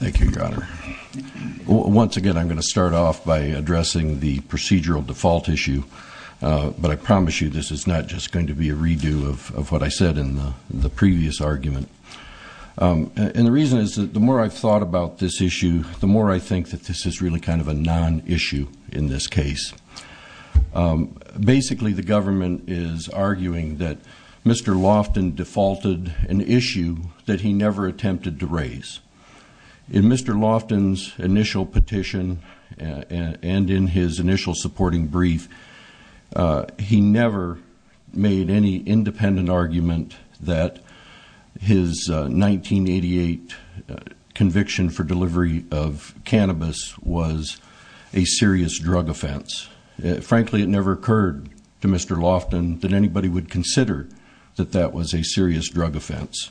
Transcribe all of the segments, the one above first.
Thank you, Your Honor. Once again, I'm going to start off by addressing the procedural default issue, but I promise you this is not just going to be a redo of what I said in the previous argument. And the reason is that the more I've thought about this issue, the more I think that this is really kind of a non-issue in this case. Basically, the government is arguing that Mr. Lofton defaulted an issue that he never attempted to raise. In Mr. Lofton's initial petition and in his initial supporting brief, he never made any independent argument that his 1988 conviction for delivery of cannabis was a serious drug offense. Frankly, it never occurred to Mr. Lofton that anybody would consider that that was a serious drug offense.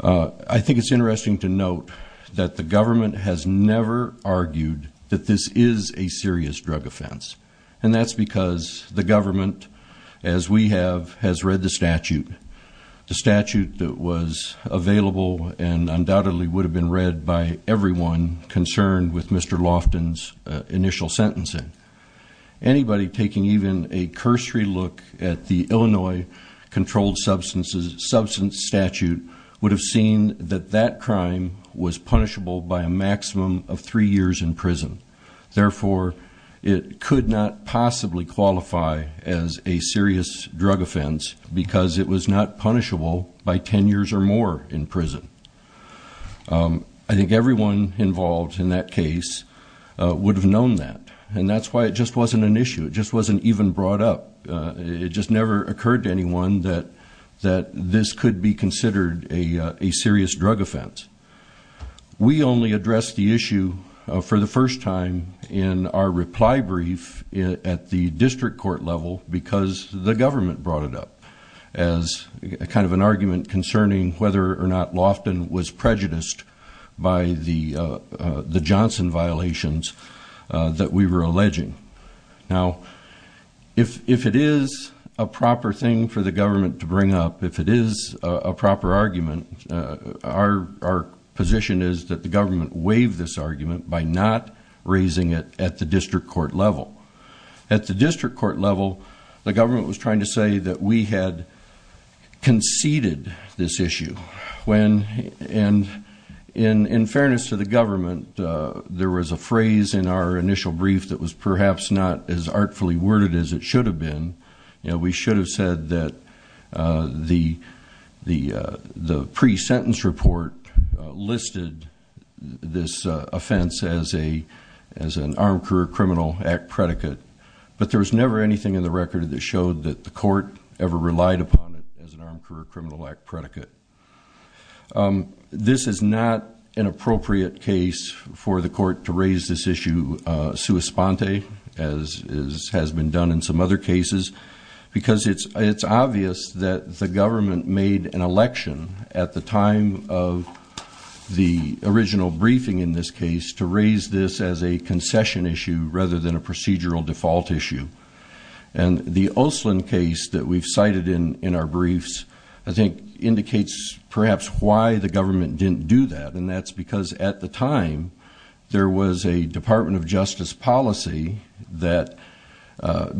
I think it's interesting to note that the government has never argued that this is a serious drug offense. And that's because the government, as we have, has read the statute. The statute that was available and undoubtedly would have been read by everyone concerned with Mr. Lofton's initial sentencing. Anybody taking even a cursory look at the Illinois controlled substance statute would have seen that that crime was punishable by a maximum of three years in prison. Therefore, it could not possibly qualify as a serious drug offense because it was not punishable by 10 years or more in prison. I think everyone involved in that case would have known that. And that's why it just wasn't an issue. It just wasn't even brought up. It just never occurred to anyone that this could be considered a serious drug offense. We only addressed the issue for the first time in our reply brief at the district court level because the government brought it up as kind of an argument concerning whether or not Lofton was prejudiced by the Johnson violations that we were alleging. Now, if it is a proper thing for the government to bring up, if it is a proper argument, our position is that the government waive this argument by not raising it at the district court level. At the district court level, the government was trying to say that we had conceded this issue. And in fairness to the government, there was a phrase in our initial brief that was perhaps not as artfully worded as it should have been. We should have said that the pre-sentence report listed this offense as an Armed Career Criminal Act predicate. But there was never anything in the record that showed that the court ever relied upon it as an Armed Career Criminal Act predicate. This is not an appropriate case for the court to raise this issue sua sponte, as has been done in some other cases, because it's obvious that the government made an election at the time of the original briefing in this case to raise this as a concession issue rather than a procedural default issue. And the Oslin case that we've cited in our briefs, I think, indicates perhaps why the government didn't do that. And that's because at the time, there was a Department of Justice policy that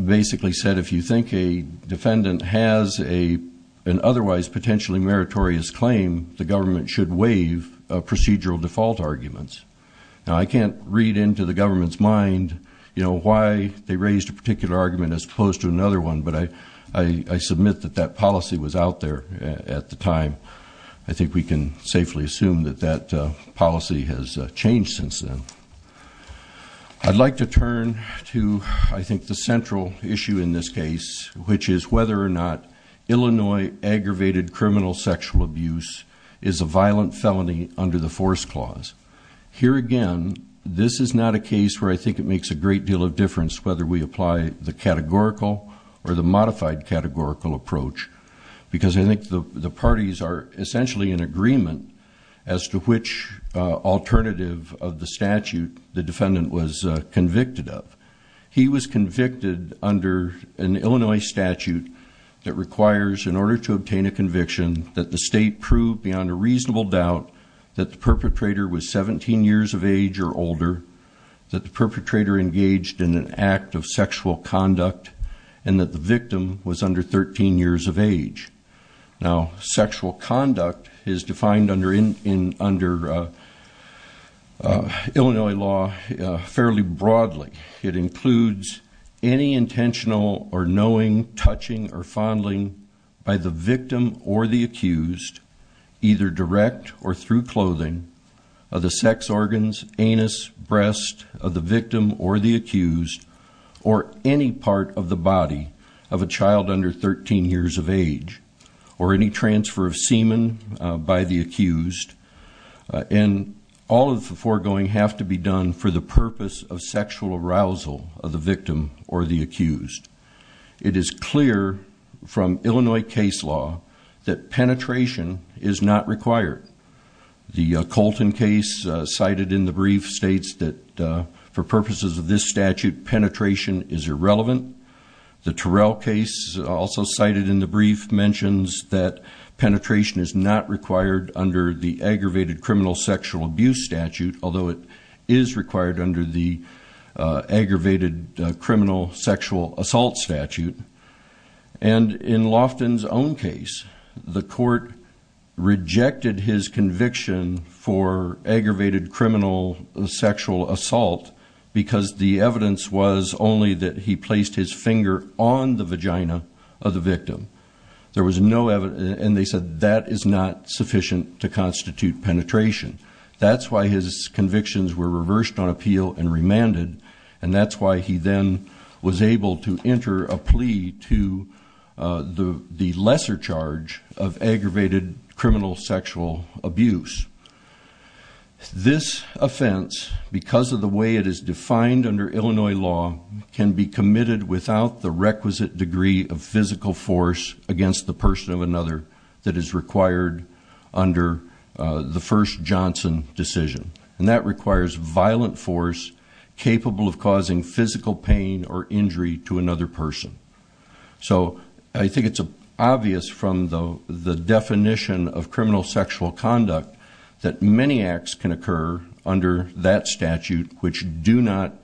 basically said if you think a defendant has an otherwise potentially meritorious claim, the government should waive procedural default arguments. Now, I can't read into the government's mind why they raised a particular argument as opposed to another one, but I submit that that policy was out there at the time. I think we can safely assume that that policy has changed since then. I'd like to turn to, I think, the central issue in this case, which is whether or not Illinois aggravated criminal sexual abuse is a violent felony under the Force Clause. Here again, this is not a case where I think it makes a great deal of difference whether we apply the categorical or the modified categorical approach, because I think the parties are essentially in agreement as to which alternative of the statute the defendant was convicted of. He was convicted under an Illinois statute that requires, in order to of age or older, that the perpetrator engaged in an act of sexual conduct and that the victim was under 13 years of age. Now, sexual conduct is defined under Illinois law fairly broadly. It includes any intentional or knowing, touching, or fondling by the victim or the accused, either direct or through clothing, of the sex organs, anus, breast of the victim or the accused, or any part of the body of a child under 13 years of age, or any transfer of semen by the accused, and all of the foregoing have to be done for the purpose of sexual abuse. Penetration is not required. The Colton case cited in the brief states that for purposes of this statute, penetration is irrelevant. The Terrell case also cited in the brief mentions that penetration is not required under the aggravated criminal sexual abuse statute, although it is required under the aggravated criminal sexual assault statute. And in Lofton's own case, the court rejected his conviction for aggravated criminal sexual assault because the evidence was only that he placed his finger on the vagina of the victim. There was no evidence, and they said that is not sufficient to constitute penetration. That's why his convictions were reversed on appeal and remanded, and that's why he then was able to enter a lesser charge of aggravated criminal sexual abuse. This offense, because of the way it is defined under Illinois law, can be committed without the requisite degree of physical force against the person of another that is required under the first Johnson decision. And that requires violent force capable of causing physical pain or injury to another person. So I think it's obvious from the definition of criminal sexual conduct that many acts can occur under that statute which do not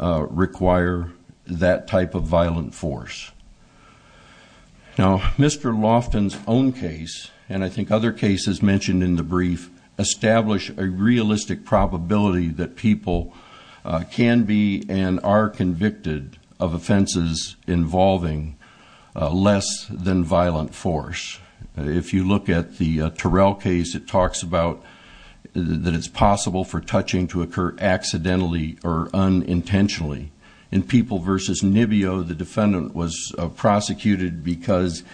require that type of violent force. Now, Mr. Lofton's own case, and I think other cases mentioned in the brief, establish a realistic probability that people can be and are convicted of offenses involving less than violent force. If you look at the Terrell case, it talks about that it's possible for touching to occur accidentally or unintentionally. In People v. Nibio, the defendant was prosecuted because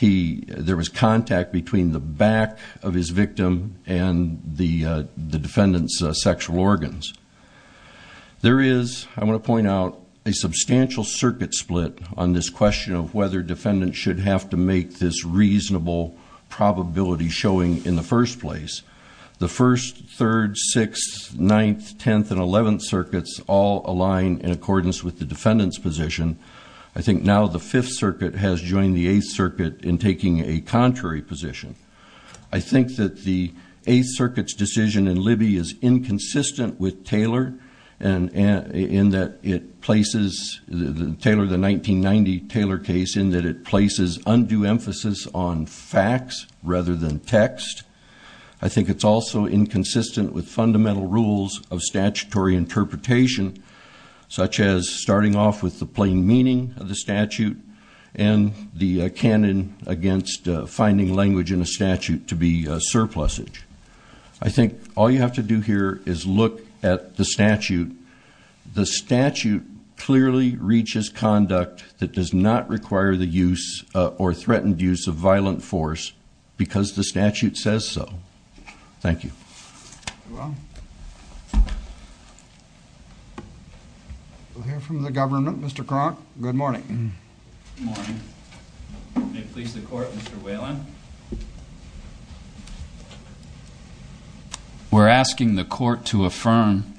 there was contact between the back of his victim and the defendant's sexual organs. There is, I want to point out, a substantial circuit split on this question of whether defendants should have to make this reasonable probability showing in the first place. The first, third, sixth, ninth, tenth, and eleventh circuits all align in accordance with the in taking a contrary position. I think that the Eighth Circuit's decision in Libby is inconsistent with Taylor in that it places, Taylor, the 1990 Taylor case, in that it places undue emphasis on facts rather than text. I think it's also inconsistent with fundamental rules of statutory interpretation, such as starting off with the plain meaning of the defendant against finding language in a statute to be surplusage. I think all you have to do here is look at the statute. The statute clearly reaches conduct that does not require the use or threatened use of violent force because the statute says so. Thank you. We'll hear from the government. Mr. Cronk, good morning. Good morning. May it please the Court, Mr. Whelan. We're asking the Court to affirm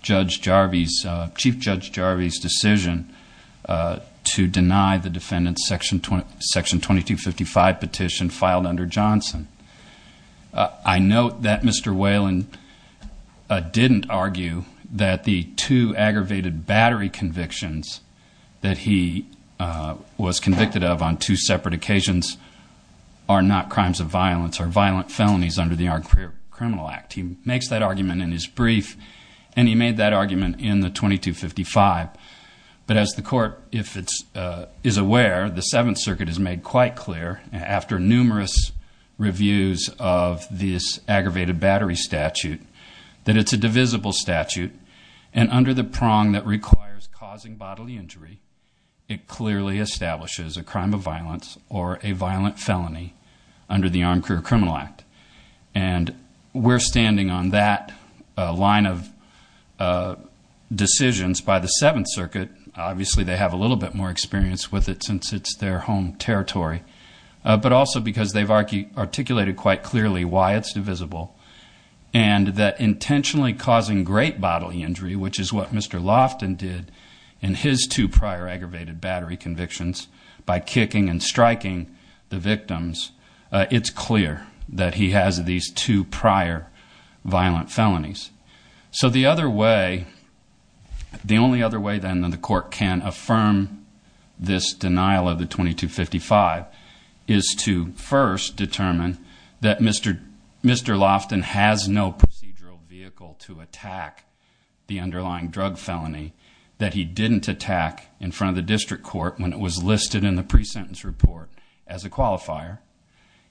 Judge Jarvie's, Chief Judge Jarvie's decision to deny the Whelan didn't argue that the two aggravated battery convictions that he was convicted of on two separate occasions are not crimes of violence or violent felonies under the Armed Career Criminal Act. He makes that argument in his brief, and he made that argument in the 2255. But as the Court, if it's, is aware, the Seventh Circuit has made quite clear after numerous reviews of this aggravated battery statute, that it's a divisible statute and under the prong that requires causing bodily injury, it clearly establishes a crime of violence or a violent felony under the Armed Career Criminal Act. And we're standing on that line of decisions by the Seventh Circuit. Obviously, they have a little bit more experience with it since it's their home territory, but also because they've articulated quite clearly why it's divisible and that intentionally causing great bodily injury, which is what Mr. Loftin did in his two prior aggravated battery convictions by kicking and striking the victims, it's clear that he has these two prior violent felonies. So the other way, the only other way then that the Court can affirm this denial of the 2255 is to first determine that Mr. Loftin has no procedural vehicle to attack the underlying drug felony, that he didn't attack in front of the district court when it was listed in the pre-sentence report as a qualifier.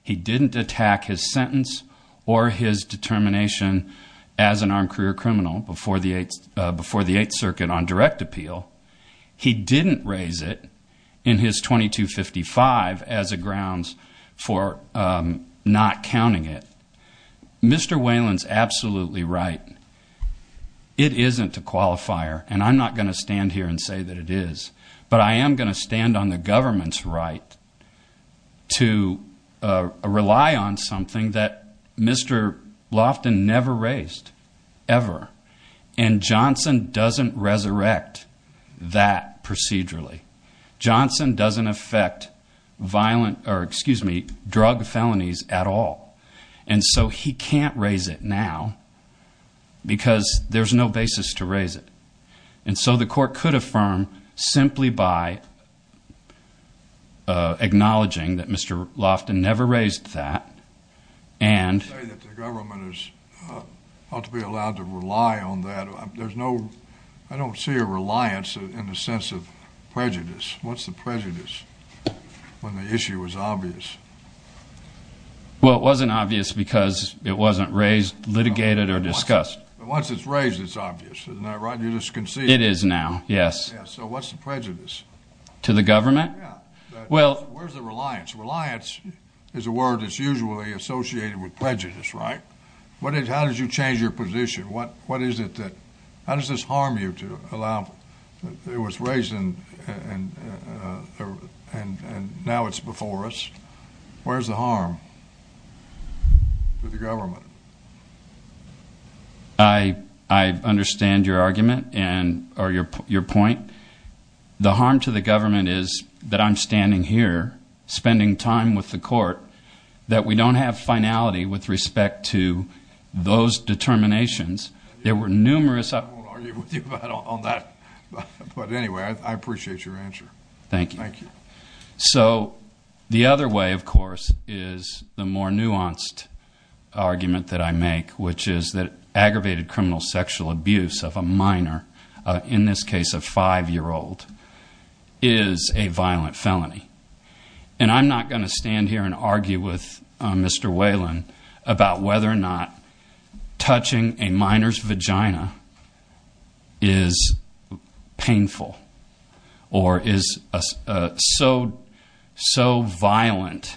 He didn't attack his sentence or his determination as an armed career criminal before the Eighth Circuit on direct appeal. He didn't raise it in his 2255 as a grounds for not counting it. Mr. Whalen's absolutely right. It isn't a qualifier and I'm not going to stand here and say that it is, but I am going to stand on the government's right to rely on something that Mr. Loftin never raised, ever. And Johnson doesn't resurrect that procedurally. Johnson doesn't affect drug felonies at all. And so he can't raise it now because there's no basis to raise it. And so the Court could affirm simply by acknowledging that Mr. Loftin never raised that and... You say that the government is ought to be allowed to rely on that. There's no, I don't see a reliance in the sense of prejudice. What's the prejudice when the issue was obvious? Well, it wasn't obvious because it wasn't raised, litigated, or discussed. Once it's raised, it's obvious. Isn't that right? You're just concealing it. It is now, yes. Yeah, so what's the prejudice? To the government? Yeah. Well... Where's the reliance? Reliance is a word that's usually associated with prejudice, right? How did you change your position? What is it that, how does this harm you to allow, it was raised and now it's before us. Where's the harm to the government? I understand your argument and, or your point. The harm to the government is that I'm standing here spending time with the Court, that we don't have finality with respect to those determinations. There were numerous... I won't argue with you on that. But anyway, I appreciate your answer. Thank you. Thank you. So, the other way, of course, is the more nuanced argument that I make, which is that aggravated criminal sexual abuse of a minor, in this case a five-year-old, is a violent felony. And I'm not going to stand here and argue with Mr. Whalen about whether or not is painful or is so violent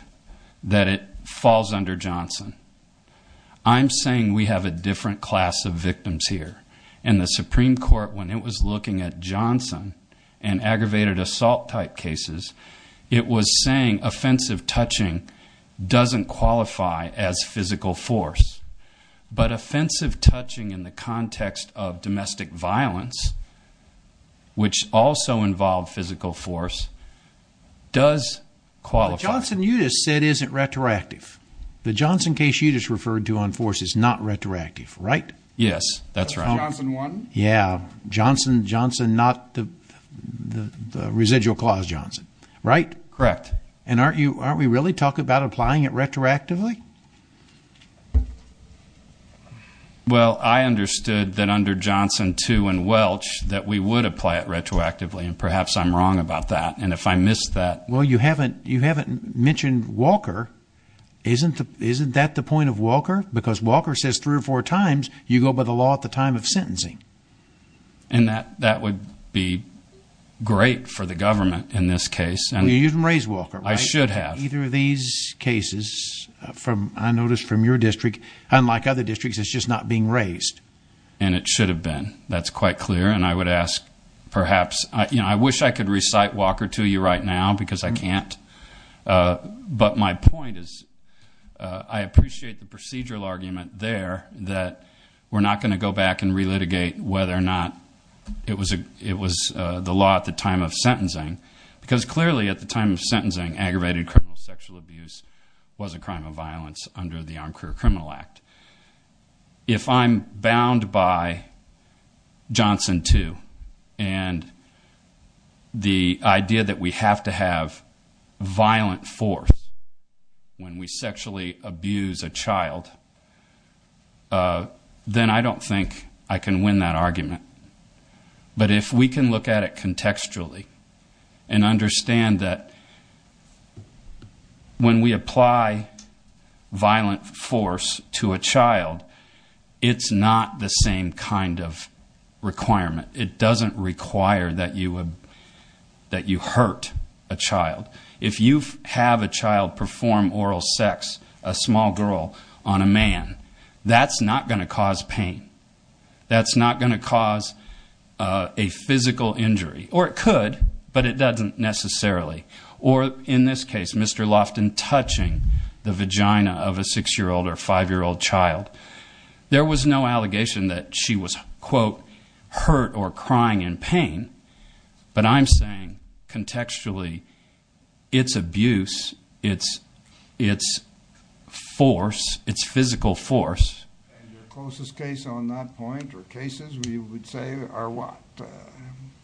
that it falls under Johnson. I'm saying we have a different class of victims here. And the Supreme Court, when it was looking at Johnson and aggravated assault type cases, it was saying offensive touching doesn't qualify as physical force. But offensive touching in the context of domestic violence, which also involved physical force, does qualify. The Johnson-Utis said isn't retroactive. The Johnson case you just referred to on force is not retroactive, right? Yes, that's right. That's Johnson 1. Yeah. Johnson, Johnson, not the residual clause Johnson, right? Correct. And aren't you, aren't we really talking about applying it retroactively? Well, I understood that under Johnson 2 and Welch that we would apply it retroactively. And perhaps I'm wrong about that. And if I missed that. Well, you haven't, you haven't mentioned Walker. Isn't that the point of Walker? Because Walker says three or four times you go by the law at the time of sentencing. And that would be great for the government in this case. You didn't raise Walker. I should have. Either of these cases from, I noticed from your district, unlike other districts, it's just not being raised. And it should have been. That's quite clear. And I would ask perhaps, you know, I wish I could recite Walker to you right now because I can't. But my point is, I appreciate the procedural argument there that we're not going to go back and relitigate whether or not it was the law at the time of sentencing. Because clearly at the time of sentencing, aggravated criminal sexual abuse was a crime of violence under the Armed Career Criminal Act. If I'm bound by Johnson 2 and the idea that we have to have violent force when we sexually abuse a child, then I don't think I can win that argument. But if we can look at it contextually and understand that when we apply violent force to a child, it's not the same kind of requirement. It doesn't require that you hurt a child. If you have a child perform oral sex, a small girl on a man, that's not going to cause pain. That's not going to cause a physical injury. Or it could, but it doesn't necessarily. Or in this case, Mr. Loftin touching the vagina of a six-year-old or five-year-old child. There was no allegation that she was, quote, hurt or crying in pain. But I'm saying, contextually, it's abuse, it's force, it's physical force. And your closest case on that point or cases, we would say, are what?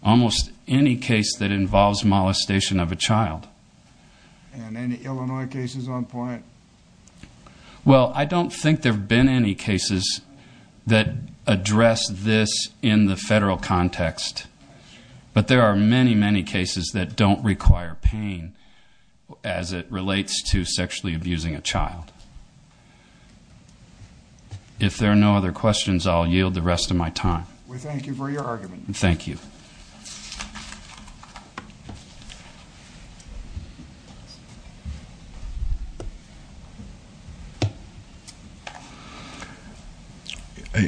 Almost any case that involves molestation of a child. And any Illinois cases on point? Well, I don't think there have been any cases that address this in the federal context. But there are many, many cases that don't require pain as it relates to sexually abusing a child. If there are no other questions, I'll yield the rest of my time. We thank you for your argument. Thank you.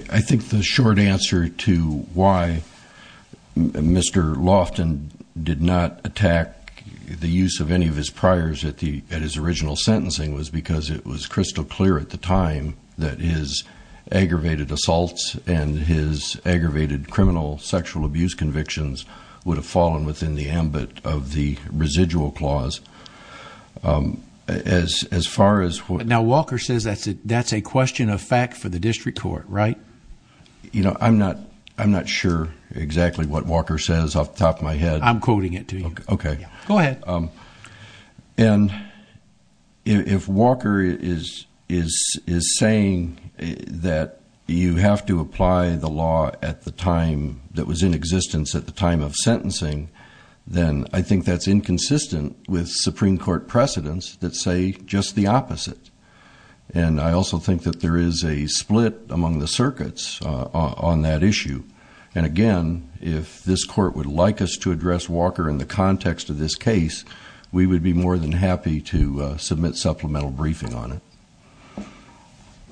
I think the short answer to why Mr. Loftin did not attack the use of any of his priors at his original sentencing was because it was crystal clear at the time that his aggravated assaults and his aggravated criminal sexual abuse convictions would have fallen within the ambit of the residual clause. Now, Walker says that's a question of fact for the district court, right? You know, I'm not sure exactly what Walker says off the top of my head. I'm quoting it to you. Okay. Go ahead. And if Walker is saying that you have to apply the law at the time that was in existence at the time of sentencing, then I think that's inconsistent with Supreme Court precedents that say just the opposite. And I also think that there is a split among the circuits on that issue. And again, if this court would like us to address Walker in the context of this case, we would be more than happy to submit supplemental briefing on it.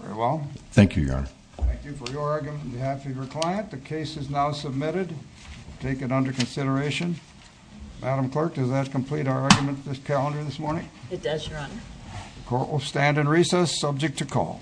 Very well. Thank you, Your Honor. Thank you for your argument on behalf of your client. The case is now submitted. Take it under consideration. Madam Clerk, does that complete our argument for this calendar this morning? It does, Your Honor. The court will stand in recess, subject to call.